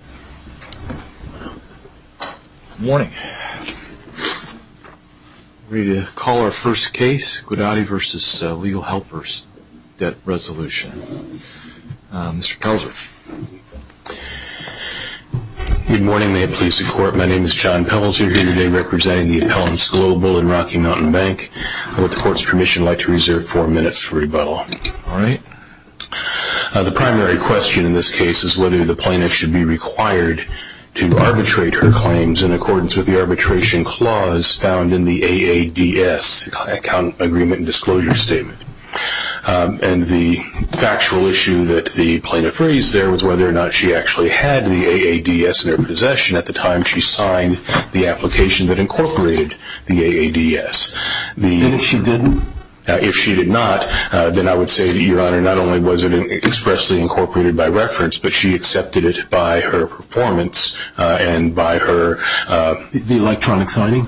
Good morning. I'm ready to call our first case, Guidotti v. Legal Helpers, debt resolution. Mr. Pelzer. Good morning. May it please the Court, my name is John Pelzer, here today representing the appellants Global and Rocky Mountain Bank. I would, with the Court's permission, like to reserve four minutes for rebuttal. All right. The primary question in this case is whether the plaintiff should be required to arbitrate her claims in accordance with the arbitration clause found in the AADS, Account Agreement and Disclosure Statement. And the factual issue that the plaintiff raised there was whether or not she actually had the AADS in her possession at the time she signed the application that incorporated the AADS. And if she didn't? If she did not, then I would say, Your Honor, not only was it expressly incorporated by reference, but she accepted it by her performance and by her... The electronic signing?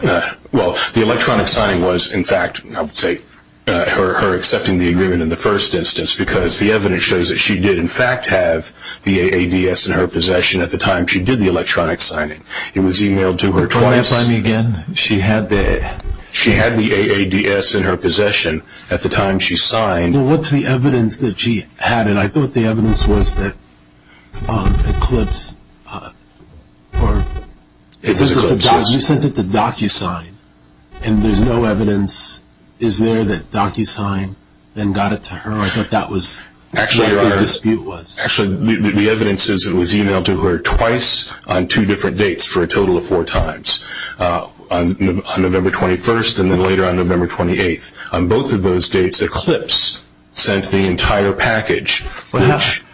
Well, the electronic signing was, in fact, I would say, her accepting the agreement in the first instance, because the evidence shows that she did, in fact, have the AADS in her possession at the time she did the electronic signing. It was emailed to her twice... Will you re-reply me again? She had the... She had the AADS in her possession at the time she signed... What's the evidence that she had it? I thought the evidence was that Eclipse, or... It was Eclipse, yes. You sent it to DocuSign, and there's no evidence. Is there that DocuSign then got it to her? I thought that was what the dispute was. Actually, the evidence is that it was emailed to her twice on two different dates for a total of four times, on November 21st and then later on November 28th. On both of those dates, Eclipse sent the entire package.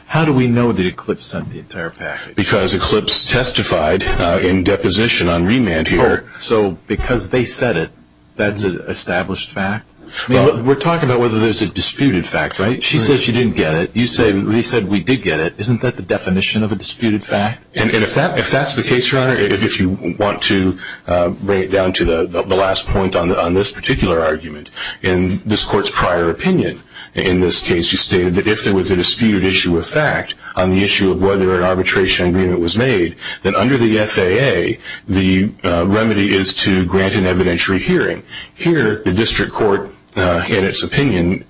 How do we know that Eclipse sent the entire package? Because Eclipse testified in deposition on remand here. So, because they said it, that's an established fact? We're talking about whether there's a disputed fact, right? She said she didn't get it. You said, we did get it. Isn't that the definition of a disputed fact? And if that's the case, Your Honor, if you want to bring it down to the last point on this particular argument, in this Court's prior opinion in this case, you stated that if there was a disputed issue of fact on the issue of whether an arbitration agreement was made, then under the FAA, the remedy is to grant an evidentiary hearing. Here, the District Court, in its opinion,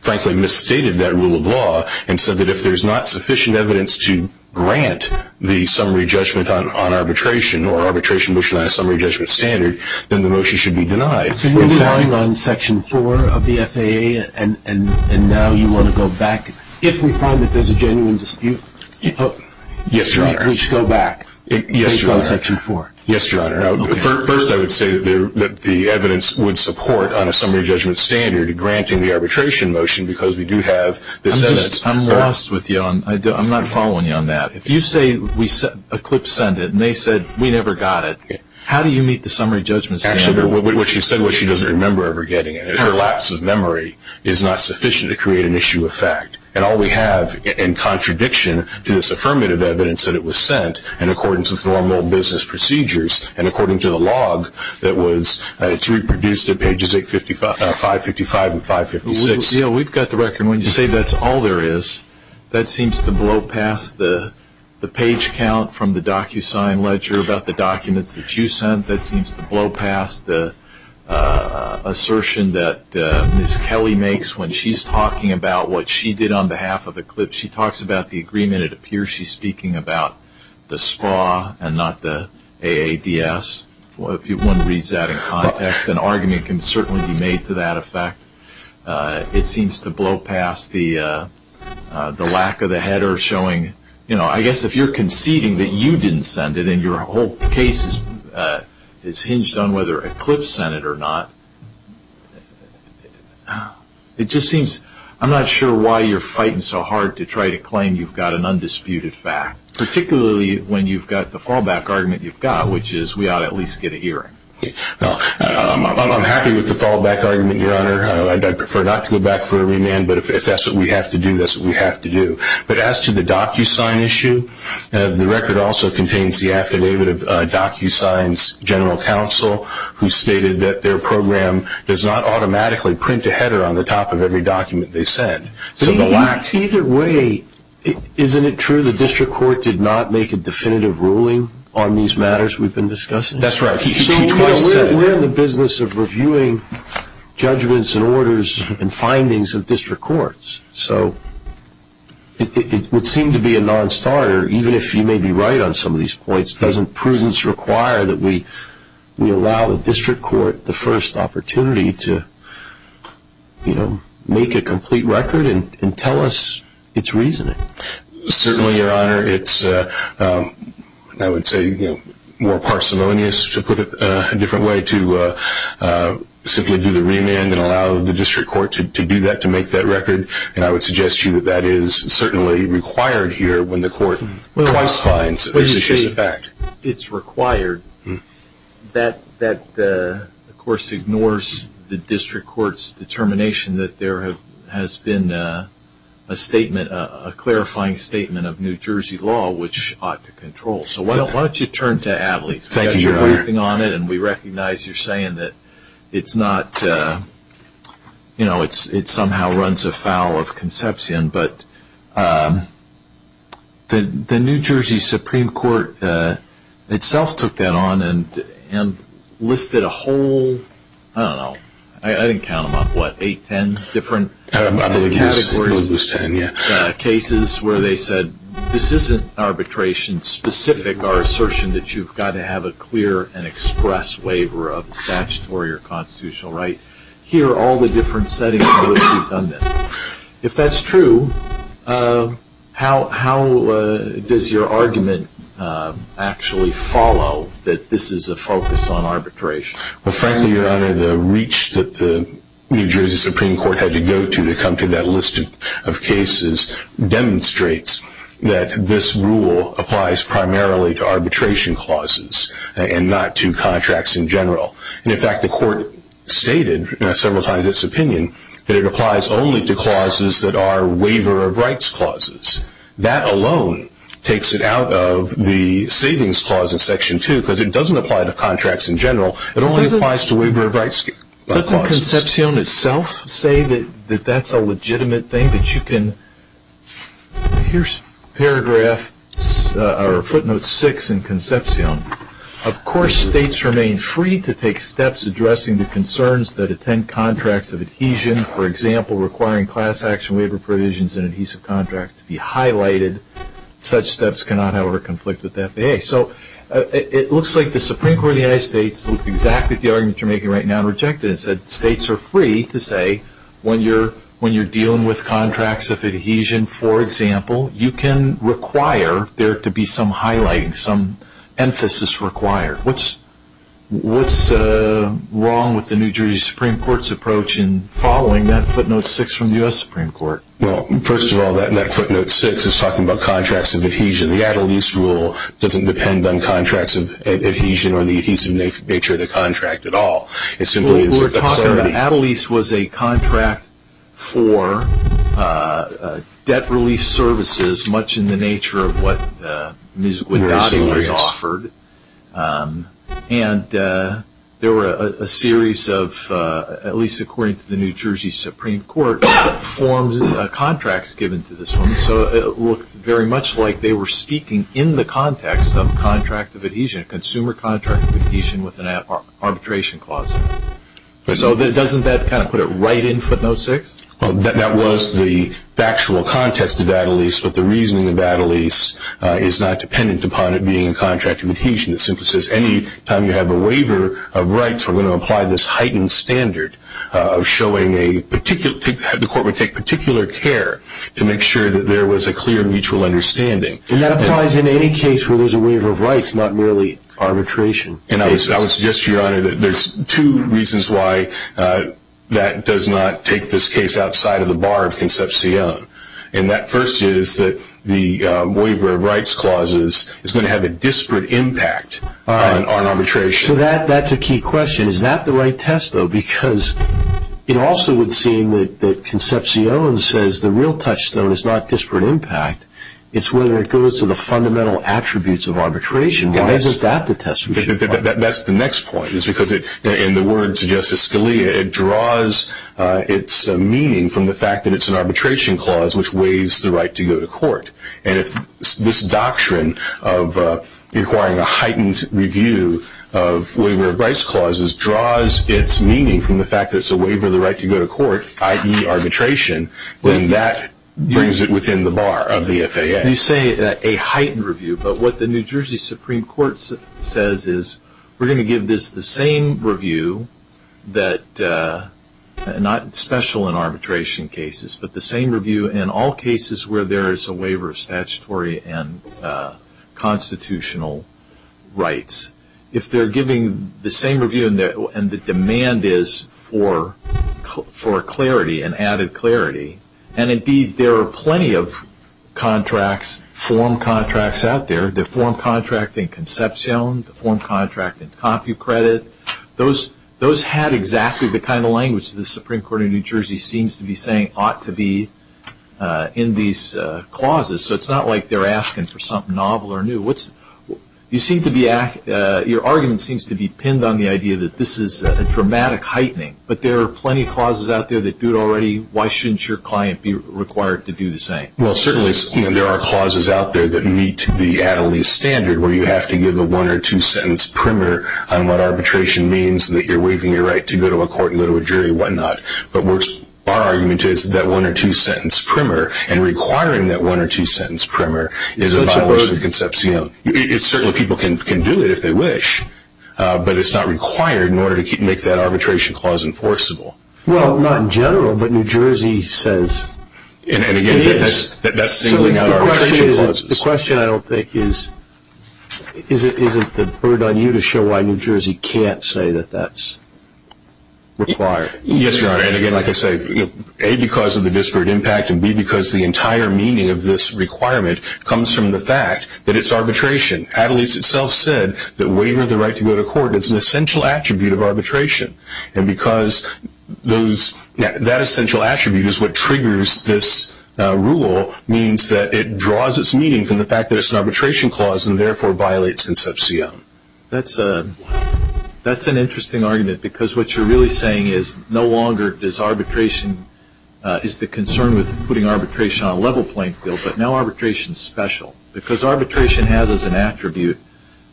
frankly misstated that rule of law, and said that if there's not sufficient evidence to grant the summary judgment on arbitration, or arbitration motion on a summary judgment standard, then the motion should be denied. So you're relying on Section 4 of the FAA, and now you want to go back? If we find that there's a genuine dispute, we should go back? Yes, Your Honor. We should go to Section 4? Yes, Your Honor. First, I would say that the evidence would support, on a summary judgment standard, granting the arbitration motion, because we do have the sentence. I'm lost with you. I'm not following you on that. If you say, we sent, Eclipse sent it, and they said, we never got it, how do you meet the summary judgment standard? Actually, what she said, what she doesn't remember ever getting it. Her lapse of memory is not sufficient to create an issue of fact. And all we have in contradiction to this affirmative evidence that it was sent, and according to formal business procedures, and according to the log that was, it's reproduced at pages 555 and 556. We've got the record. When you say that's all there is, that seems to blow past the page count from the DocuSign ledger about the documents that you sent. That seems to blow past the assertion that Ms. Kelly makes when she's talking about what she did on behalf of Eclipse. She talks about the agreement. It appears she's speaking about the SPRA and not the AADS. If one reads that in context, an argument can certainly be made to that effect. It seems to blow past the lack of the header showing, you know, I guess if you're conceding that you didn't send it and your whole case is hinged on whether Eclipse sent it or not, it just seems I'm not sure why you're fighting so hard to try to claim you've got an undisputed fact, particularly when you've got the fallback argument you've got, which is we ought to at least get a hearing. I'm happy with the fallback argument, Your Honor. I'd prefer not to go back for a remand, but if that's what we have to do, that's what we have to do. But as to the DocuSign issue, the record also contains the affidavit of DocuSign's general counsel, who stated that their program does not automatically print a header on the top of every document they send. Either way, isn't it true the district court did not make a definitive ruling on these matters we've been discussing? We're in the business of reviewing judgments and orders and findings of district courts, so it would seem to be a nonstarter, even if you may be right on some of these points. Doesn't prudence require that we allow the district court the first opportunity to make a complete record and tell us its reasoning? Certainly, Your Honor. It's, I would say, more parsimonious, to put it a different way, to simply do the remand and allow the district court to do that, to make that record, and I would suggest to you that that is certainly required here when the court twice finds that this is just a fact. When you say it's required, that of course ignores the district court's determination that there has been a statement, a clarifying statement of New Jersey law which ought to control. So why don't you turn to Adley? Thank you, Your Honor. We recognize you're saying that it's not, you know, it somehow runs afoul of conception, but the New Jersey Supreme Court itself took that on and listed a whole, I don't know, I didn't count them up, what, eight, ten different categories of cases where they said this isn't arbitration specific or assertion that you've got to have a clear and express waiver of statutory or constitutional right. Here are all the different settings in which we've done this. If that's true, how does your argument actually follow that this is a focus on arbitration? Well, frankly, Your Honor, the reach that the New Jersey Supreme Court had to go to to come to that list of cases demonstrates that this rule applies primarily to arbitration clauses and not to contracts in general. And, in fact, the court stated several times its opinion that it applies only to clauses that are waiver of rights clauses. That alone takes it out of the savings clause in Section 2 because it doesn't apply to contracts in general. It only applies to waiver of rights clauses. Doesn't Concepcion itself say that that's a legitimate thing, that you can, here's paragraph or footnote 6 in Concepcion. Of course, states remain free to take steps addressing the concerns that attend contracts of adhesion, for example, requiring class action waiver provisions in adhesive contracts to be highlighted. Such steps cannot, however, conflict with the FAA. Okay, so it looks like the Supreme Court of the United States looked exactly at the argument you're making right now and rejected it and said states are free to say when you're dealing with contracts of adhesion, for example, you can require there to be some highlighting, some emphasis required. What's wrong with the New Jersey Supreme Court's approach in following that footnote 6 from the U.S. Supreme Court? Well, first of all, that footnote 6 is talking about contracts of adhesion. The at-a-lease rule doesn't depend on contracts of adhesion or the adhesive nature of the contract at all. We're talking about at-a-lease was a contract for debt-relief services, much in the nature of what musical endowments offered. And there were a series of, at least according to the New Jersey Supreme Court, contracts given to this woman. Okay, so it looked very much like they were speaking in the context of contract of adhesion, consumer contract of adhesion with an arbitration clause. So doesn't that kind of put it right in footnote 6? That was the factual context of at-a-lease, but the reasoning of at-a-lease is not dependent upon it being a contract of adhesion. It simply says any time you have a waiver of rights, we're going to apply this heightened standard of showing a particular, the court would take particular care to make sure that there was a clear mutual understanding. And that applies in any case where there's a waiver of rights, not merely arbitration cases. And I would suggest, Your Honor, that there's two reasons why that does not take this case outside of the bar of conception. And that first is that the waiver of rights clauses is going to have a disparate impact on arbitration. So that's a key question. Is that the right test, though? Because it also would seem that Concepcion says the real touchstone is not disparate impact. It's whether it goes to the fundamental attributes of arbitration. Why isn't that the test? That's the next point, is because in the words of Justice Scalia, it draws its meaning from the fact that it's an arbitration clause which waives the right to go to court. And if this doctrine of requiring a heightened review of waiver of rights clauses draws its meaning from the fact that it's a waiver of the right to go to court, i.e. arbitration, then that brings it within the bar of the FAA. You say a heightened review, but what the New Jersey Supreme Court says is, we're going to give this the same review that, not special in arbitration cases, but the same review in all cases where there is a waiver of statutory and constitutional rights. If they're giving the same review and the demand is for clarity and added clarity, and indeed there are plenty of contracts, form contracts out there, the form contract in Concepcion, the form contract in CompuCredit, those have exactly the kind of language the Supreme Court of New Jersey seems to be saying ought to be in these clauses. So it's not like they're asking for something novel or new. Your argument seems to be pinned on the idea that this is a dramatic heightening, but there are plenty of clauses out there that do it already. Why shouldn't your client be required to do the same? Well, certainly there are clauses out there that meet the Attlee standard where you have to give a one or two sentence primer on what arbitration means, and that you're waiving your right to go to a court and go to a jury and whatnot. But our argument is that one or two sentence primer, and requiring that one or two sentence primer is a violation of Concepcion. Certainly people can do it if they wish, but it's not required in order to make that arbitration clause enforceable. Well, not in general, but New Jersey says it is. And again, that's singling out our arbitration clauses. The question I don't think is, is it the burden on you to show why New Jersey can't say that that's required? Yes, Your Honor. And again, like I say, A, because of the disparate impact, and B, because the entire meaning of this requirement comes from the fact that it's arbitration. Attlee's itself said that waiving the right to go to court is an essential attribute of arbitration. And because that essential attribute is what triggers this rule, means that it draws its meaning from the fact that it's an arbitration clause, and therefore violates Concepcion. That's an interesting argument, because what you're really saying is no longer is the concern with putting arbitration on a level playing field, but now arbitration is special. Because arbitration has as an attribute,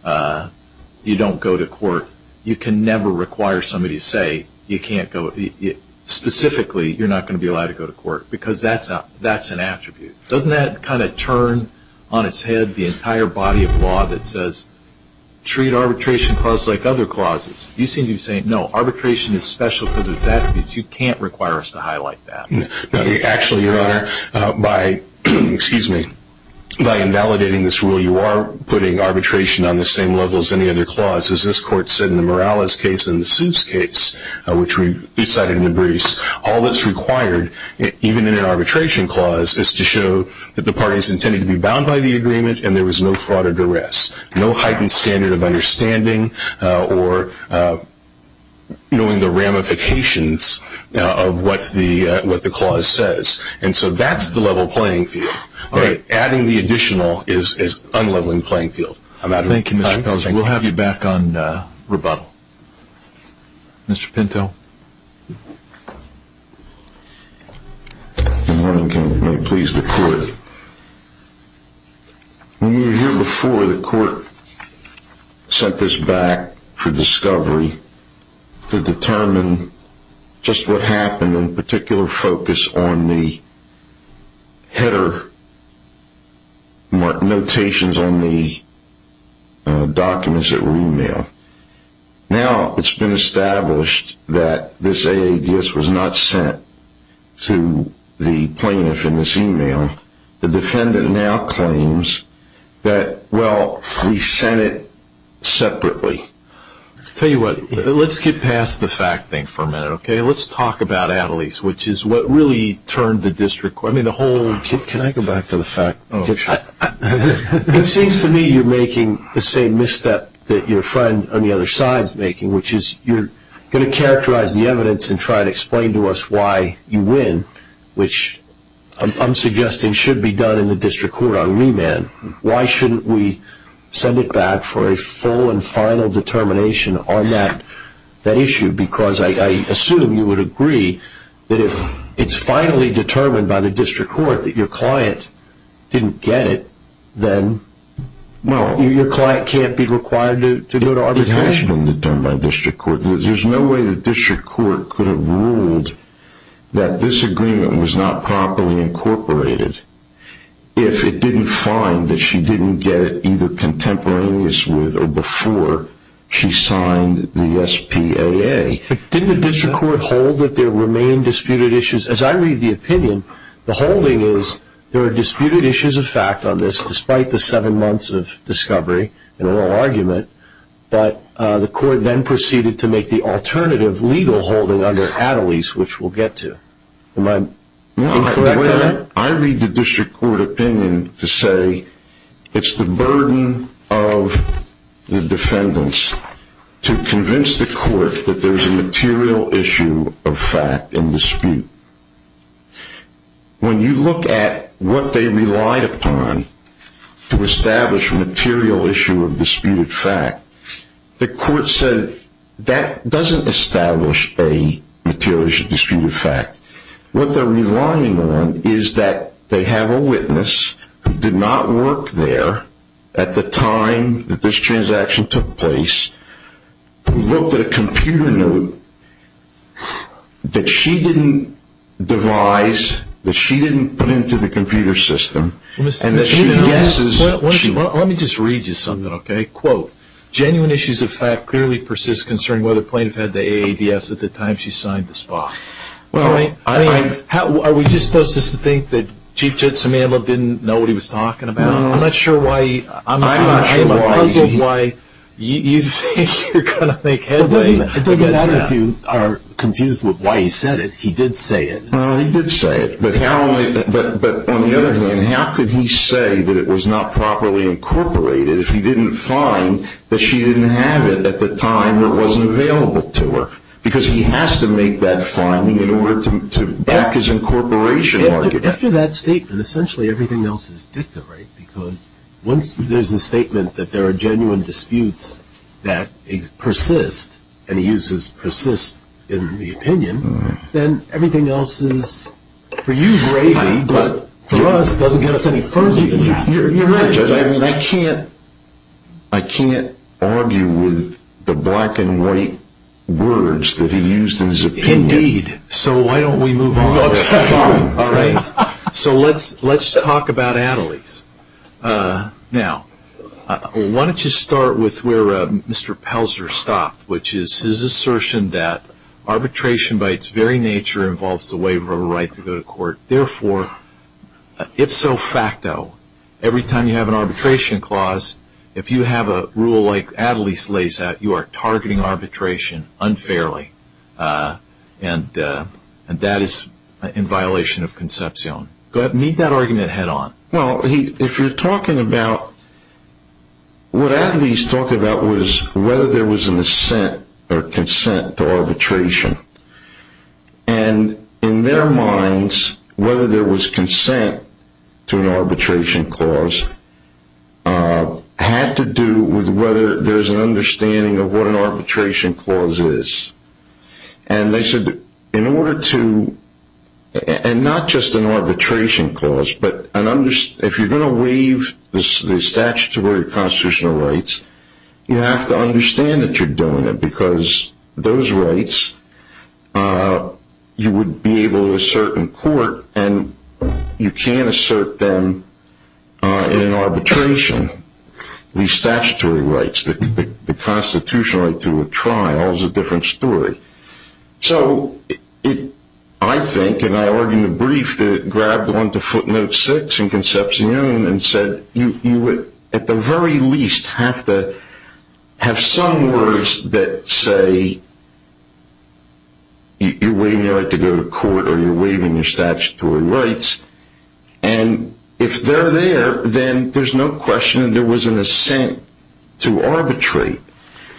you don't go to court. You can never require somebody to say you can't go, specifically you're not going to be allowed to go to court, because that's an attribute. Doesn't that kind of turn on its head the entire body of law that says, treat arbitration clause like other clauses? You seem to be saying, no, arbitration is special because of its attributes. You can't require us to highlight that. Actually, Your Honor, by invalidating this rule, you are putting arbitration on the same level as any other clause. As this Court said in the Morales case and the Seuss case, which we cited in the briefs, all that's required, even in an arbitration clause, is to show that the parties intended to be bound by the agreement, and there was no fraud or duress, no heightened standard of understanding or knowing the ramifications of what the clause says. And so that's the level playing field. Adding the additional is unleveling the playing field. Thank you. We'll have you back on rebuttal. Mr. Pinto. Good morning. May it please the Court. When you were here before, the Court sent this back for discovery to determine just what happened, and in particular focus on the header notations on the documents that were emailed. Now it's been established that this AADS was not sent to the plaintiff in this email. The defendant now claims that, well, we sent it separately. Tell you what, let's get past the fact thing for a minute, okay? Let's talk about Attlees, which is what really turned the district court. Can I go back to the fact? It seems to me you're making the same misstep that your friend on the other side is making, which is you're going to characterize the evidence and try to explain to us why you win, which I'm suggesting should be done in the district court on remand. Why shouldn't we send it back for a full and final determination on that issue? Because I assume you would agree that if it's finally determined by the district court that your client didn't get it, then your client can't be required to go to arbitration. It has been determined by district court. There's no way the district court could have ruled that this agreement was not properly incorporated if it didn't find that she didn't get it either contemporaneous with or before she signed the SPAA. Didn't the district court hold that there remained disputed issues? As I read the opinion, the holding is there are disputed issues of fact on this, despite the seven months of discovery and oral argument, but the court then proceeded to make the alternative legal holding under Attlees, which we'll get to. Am I incorrect on that? No. I read the district court opinion to say it's the burden of the defendants to convince the court that there's a material issue of fact in dispute. When you look at what they relied upon to establish a material issue of disputed fact, the court said that doesn't establish a material issue of disputed fact. What they're relying on is that they have a witness who did not work there at the time that this transaction took place, who looked at a computer note that she didn't devise, that she didn't put into the computer system. Let me just read you something, okay? Quote, genuine issues of fact clearly persist concerning whether plaintiff had the AABS at the time she signed the SPAA. Are we just supposed to think that Chief Judge Samandla didn't know what he was talking about? I'm not sure why you think you're going to make headway. It doesn't matter if you are confused with why he said it. He did say it. He did say it, but on the other hand, how could he say that it was not properly incorporated if he didn't find that she didn't have it at the time it wasn't available to her? Because he has to make that finding in order to back his incorporation argument. After that statement, essentially everything else is dicta, right? Because once there's a statement that there are genuine disputes that persist, and he uses persist in the opinion, then everything else is for you gravy, but for us it doesn't get us any further than that. You're right, Judge. I can't argue with the black and white words that he used in his opinion. Indeed. So why don't we move on? Let's move on. All right. So let's talk about Attlee's. Now, why don't you start with where Mr. Pelzer stopped, which is his assertion that arbitration by its very nature involves the waiver of a right to go to court. Therefore, ipso facto, every time you have an arbitration clause, if you have a rule like Attlee's lays out, you are targeting arbitration unfairly, and that is in violation of conception. Go ahead and meet that argument head on. Well, if you're talking about what Attlee's talked about was whether there was an assent or consent to arbitration. And in their minds, whether there was consent to an arbitration clause had to do with whether there's an understanding of what an arbitration clause is. And they said in order to, and not just an arbitration clause, but if you're going to waive the statutory constitutional rights, you have to understand that you're doing it because those rights you would be able to assert in court, and you can't assert them in an arbitration. These statutory rights, the constitutional right to a trial is a different story. So I think, and I argued in the brief, that it grabbed onto footnote six in conception and said you at the very least have to have some words that say you're waiving your right to go to court or you're waiving your statutory rights. And if they're there, then there's no question there was an assent to arbitrate.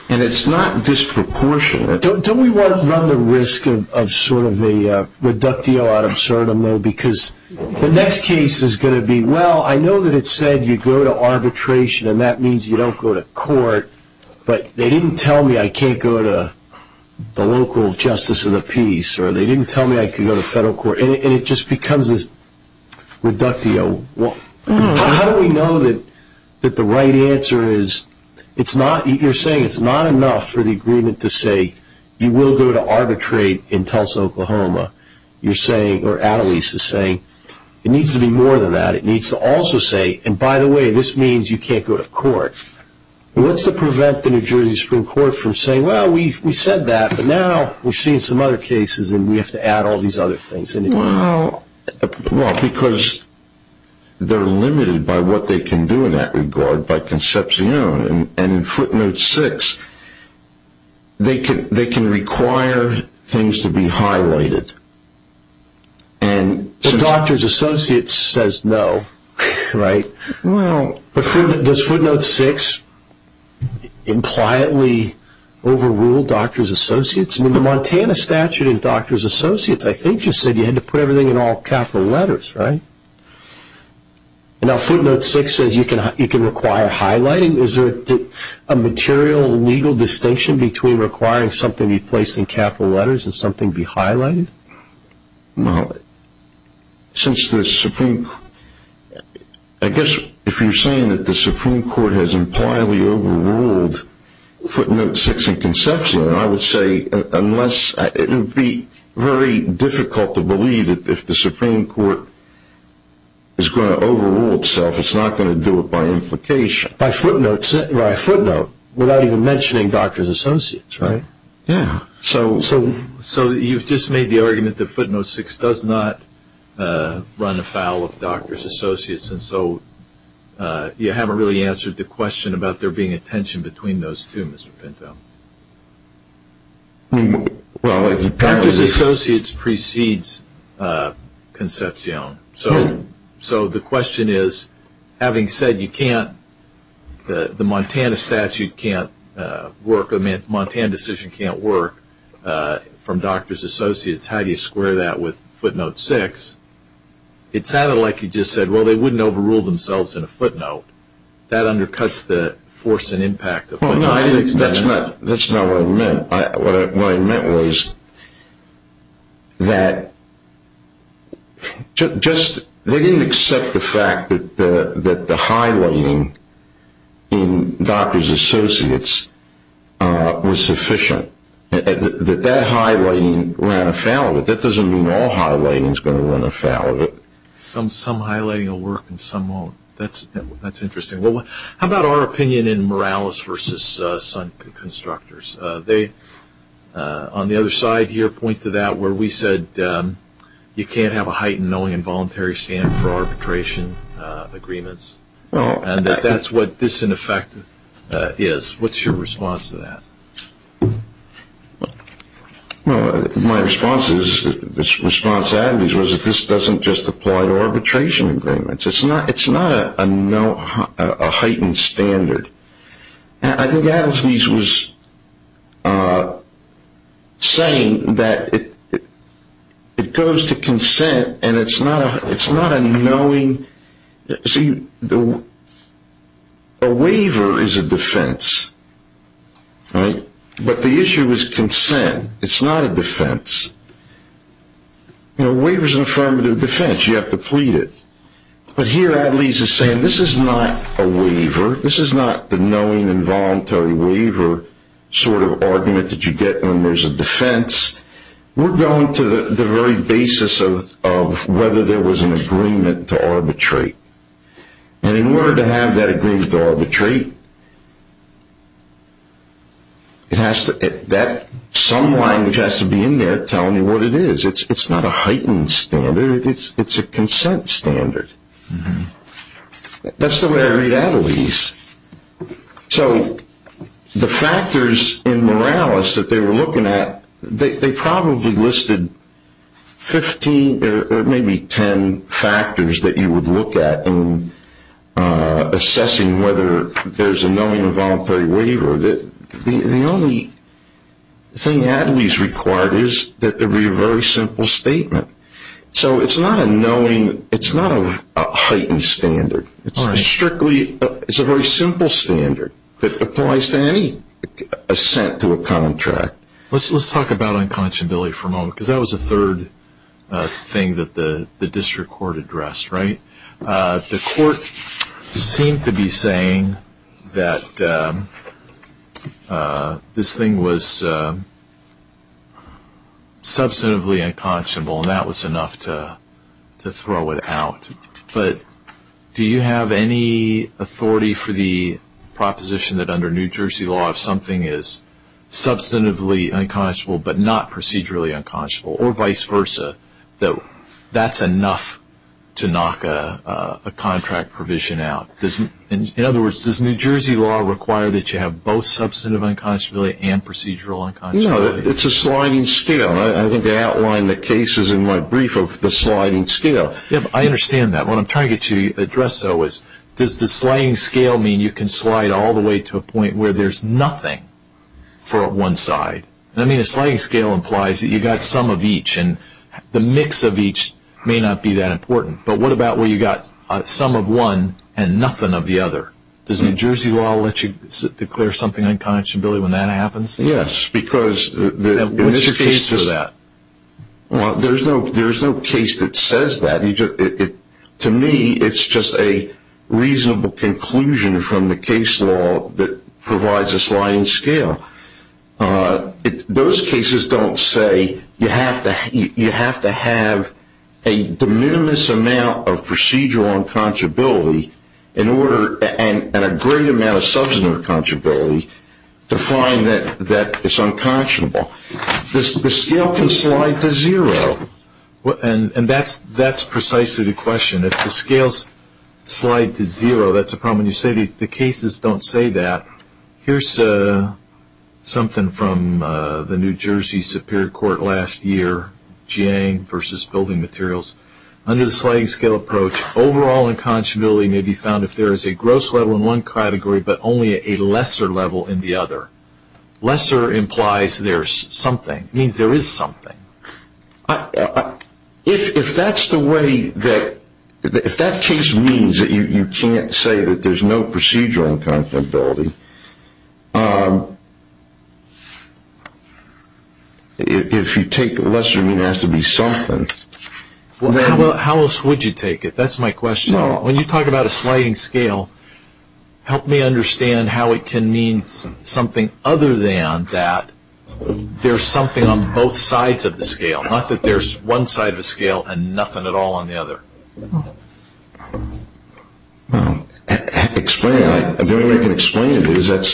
And it's not disproportionate. Don't we want to run the risk of sort of a reductio ad absurdum though, because the next case is going to be, well, I know that it said you go to arbitration and that means you don't go to court, but they didn't tell me I can't go to the local justice of the peace or they didn't tell me I could go to federal court, and it just becomes this reductio. How do we know that the right answer is, you're saying it's not enough for the agreement to say you will go to arbitrate in Tulsa, Oklahoma, you're saying, or at least is saying, it needs to be more than that. It needs to also say, and by the way, this means you can't go to court. What's to prevent the New Jersey Supreme Court from saying, well, we said that, but now we're seeing some other cases and we have to add all these other things. Well, because they're limited by what they can do in that regard by conception, and in footnote 6, they can require things to be highlighted. But doctor's associates says no, right? Does footnote 6 impliantly overrule doctor's associates? In the Montana statute in doctor's associates, I think you said you had to put everything in all capital letters, right? Now footnote 6 says you can require highlighting. Is there a material legal distinction between requiring something to be placed in capital letters and something be highlighted? No. Since the Supreme Court, I guess if you're saying that the Supreme Court has impliedly overruled footnote 6 in conception, it would be very difficult to believe that if the Supreme Court is going to overrule itself, it's not going to do it by implication. By footnote, without even mentioning doctor's associates, right? Yeah. So you've just made the argument that footnote 6 does not run afoul of doctor's associates, and so you haven't really answered the question about there being a tension between those two, Mr. Pinto. Doctor's associates precedes conception. So the question is, having said you can't, the Montana statute can't work, the Montana decision can't work from doctor's associates, how do you square that with footnote 6? It sounded like you just said, well, they wouldn't overrule themselves in a footnote. That undercuts the force and impact of footnote 6. That's not what I meant. What I meant was that just they didn't accept the fact that the highlighting in doctor's associates was sufficient, that that highlighting ran afoul of it. That doesn't mean all highlighting is going to run afoul of it. Some highlighting will work and some won't. That's interesting. How about our opinion in Morales v. Sun Constructors? They, on the other side here, point to that where we said you can't have a heightened knowing and voluntary stand for arbitration agreements, and that that's what this, in effect, is. What's your response to that? Well, my response is, this response to Adam's was that this doesn't just apply to arbitration agreements. It's not a heightened standard. I think Adam's piece was saying that it goes to consent and it's not a knowing. See, a waiver is a defense, right? But the issue is consent. It's not a defense. A waiver is an affirmative defense. You have to plead it. But here, Adam's is saying this is not a waiver. This is not the knowing and voluntary waiver sort of argument that you get when there's a defense. We're going to the very basis of whether there was an agreement to arbitrate. And in order to have that agreement to arbitrate, some language has to be in there telling you what it is. It's not a heightened standard. It's a consent standard. That's the way I read Adam's. So the factors in Morales that they were looking at, they probably listed 15 or maybe 10 factors that you would look at in assessing whether there's a knowing or voluntary waiver. The only thing Adam's required is that there be a very simple statement. So it's not a knowing. It's not a heightened standard. It's a very simple standard that applies to any assent to a contract. Let's talk about unconscionability for a moment because that was the third thing that the district court addressed, right? The court seemed to be saying that this thing was substantively unconscionable, and that was enough to throw it out. But do you have any authority for the proposition that under New Jersey law, if something is substantively unconscionable but not procedurally unconscionable or vice versa, that that's enough to knock a contract provision out? In other words, does New Jersey law require that you have both substantive unconscionability and procedural unconscionability? No, it's a sliding scale. I think I outlined the cases in my brief of the sliding scale. I understand that. What I'm trying to get you to address, though, is does the sliding scale mean you can slide all the way to a point where there's nothing for one side? I mean, a sliding scale implies that you've got some of each, and the mix of each may not be that important. But what about where you've got some of one and nothing of the other? Does New Jersey law let you declare something unconscionable when that happens? Yes. What's your case for that? Well, there's no case that says that. To me, it's just a reasonable conclusion from the case law that provides a sliding scale. Those cases don't say you have to have a de minimis amount of procedural unconscionability and a great amount of substantive unconscionability to find that it's unconscionable. The scale can slide to zero, and that's precisely the question. If the scales slide to zero, that's a problem. You say the cases don't say that. Here's something from the New Jersey Superior Court last year, Jiang v. Building Materials. Under the sliding scale approach, overall unconscionability may be found if there is a gross level in one category but only a lesser level in the other. Lesser implies there's something. It means there is something. If that case means that you can't say that there's no procedural unconscionability, if you take lesser, it means there has to be something. How else would you take it? That's my question. When you talk about a sliding scale, help me understand how it can mean something other than that there's something on both sides of the scale, not that there's one side of the scale and nothing at all on the other. Explain it. The only way I can explain it is that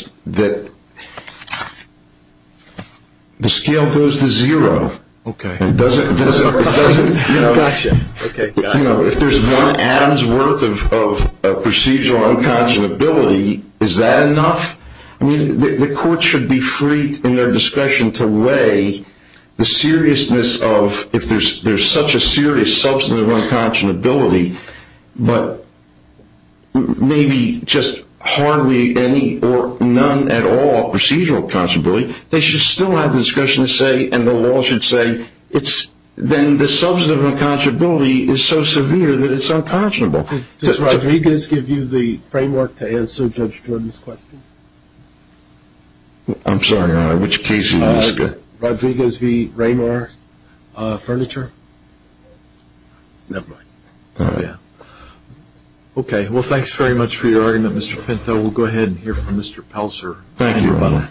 the scale goes to zero. Okay. If there's one atom's worth of procedural unconscionability, is that enough? The court should be free in their discretion to weigh the seriousness of, if there's such a serious substantive unconscionability, but maybe just hardly any or none at all procedural unconscionability, they should still have the discretion to say and the law should say then the substantive unconscionability is so severe that it's unconscionable. Does Rodriguez give you the framework to answer Judge Jordan's question? I'm sorry, Your Honor. Which case did you ask? Rodriguez v. Ramar, Furniture. Never mind. All right. Okay. Well, thanks very much for your argument, Mr. Pinto. We'll go ahead and hear from Mr. Pelzer. Thank you, Your Honor.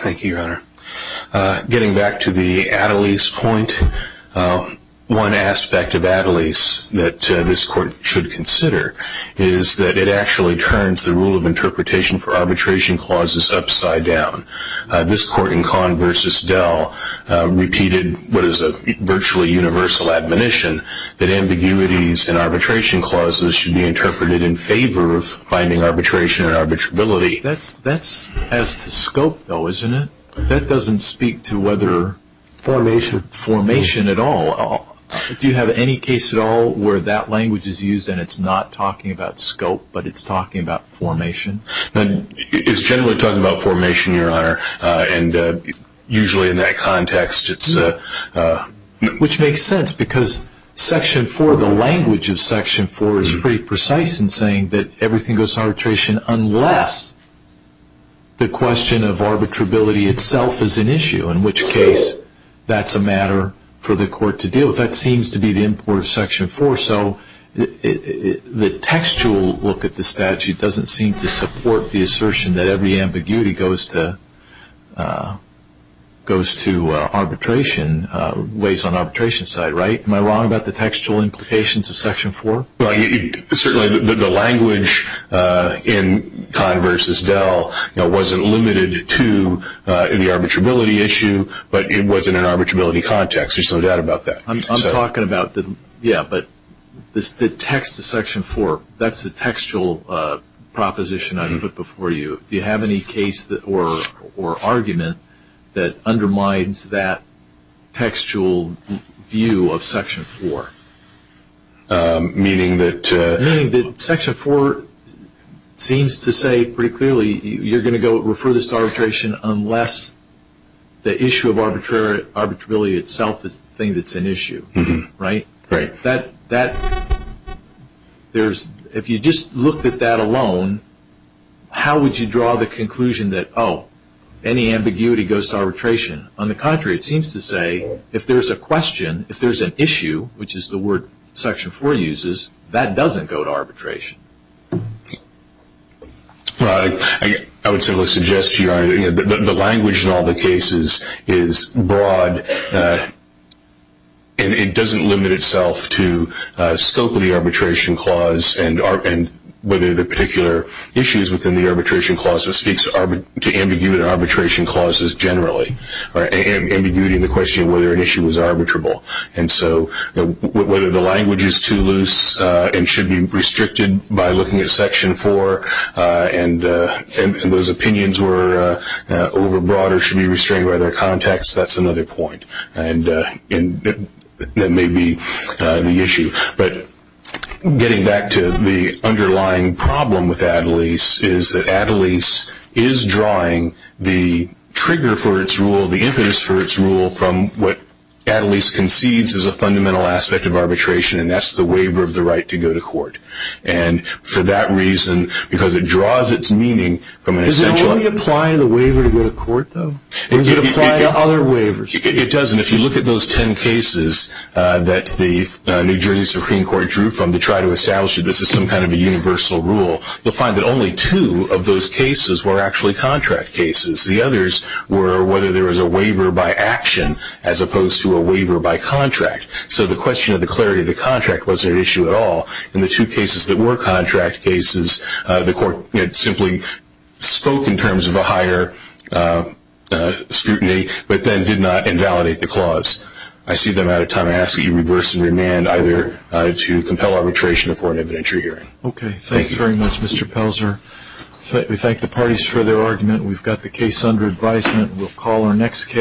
Thank you, Your Honor. Getting back to the at-a-lease point, one aspect of at-a-lease that this court should consider is that it actually turns the rule of interpretation for arbitration clauses upside down. This court in Kahn v. Dell repeated what is a virtually universal admonition that ambiguities in arbitration clauses should be interpreted in favor of finding arbitration and arbitrability. That's as to scope, though, isn't it? That doesn't speak to whether formation at all. Do you have any case at all where that language is used and it's not talking about scope but it's talking about formation? It's generally talking about formation, Your Honor, and usually in that context it's a... Which makes sense because Section 4, the language of Section 4, is pretty precise in saying that everything goes to arbitration unless the question of arbitrability itself is an issue, in which case that's a matter for the court to deal with. That seems to be the import of Section 4, so the textual look at the statute doesn't seem to support the assertion that every ambiguity goes to arbitration, weighs on arbitration side, right? Am I wrong about the textual implications of Section 4? Certainly the language in Kahn v. Dell wasn't limited to the arbitrability issue, but it was in an arbitrability context. There's no doubt about that. I'm talking about... Yeah, but the text of Section 4, that's the textual proposition I put before you. Do you have any case or argument that undermines that textual view of Section 4? Meaning that... Meaning that Section 4 seems to say pretty clearly you're going to refer this to arbitration unless the issue of arbitrability itself is the thing that's an issue, right? Right. If you just looked at that alone, how would you draw the conclusion that, oh, any ambiguity goes to arbitration? On the contrary, it seems to say if there's a question, if there's an issue, which is the word Section 4 uses, that doesn't go to arbitration. I would simply suggest to you, Your Honor, that the language in all the cases is broad and it doesn't limit itself to scope of the arbitration clause and whether the particular issues within the arbitration clause speaks to ambiguity in arbitration clauses generally, ambiguity in the question of whether an issue was arbitrable. And so whether the language is too loose and should be restricted by looking at Section 4 and those opinions were overbroad or should be restrained by their context, that's another point. And that may be the issue. But getting back to the underlying problem with Adelaide's is that Adelaide's is drawing the trigger for its rule, the impetus for its rule, from what Adelaide's concedes is a fundamental aspect of arbitration and that's the waiver of the right to go to court. And for that reason, because it draws its meaning from an essential... Does it only apply to the waiver to go to court, though? Or does it apply to other waivers? It doesn't. If you look at those ten cases that the New Jersey Supreme Court drew from to try to establish that this is some kind of a universal rule, you'll find that only two of those cases were actually contract cases. The others were whether there was a waiver by action as opposed to a waiver by contract. So the question of the clarity of the contract wasn't an issue at all. In the two cases that were contract cases, the court simply spoke in terms of a higher scrutiny but then did not invalidate the clause. I see that I'm out of time. I ask that you reverse and remand either to compel arbitration or for an evidentiary hearing. Okay. Thanks very much, Mr. Pelzer. We thank the parties for their argument. We've got the case under advisement. We'll call our next case.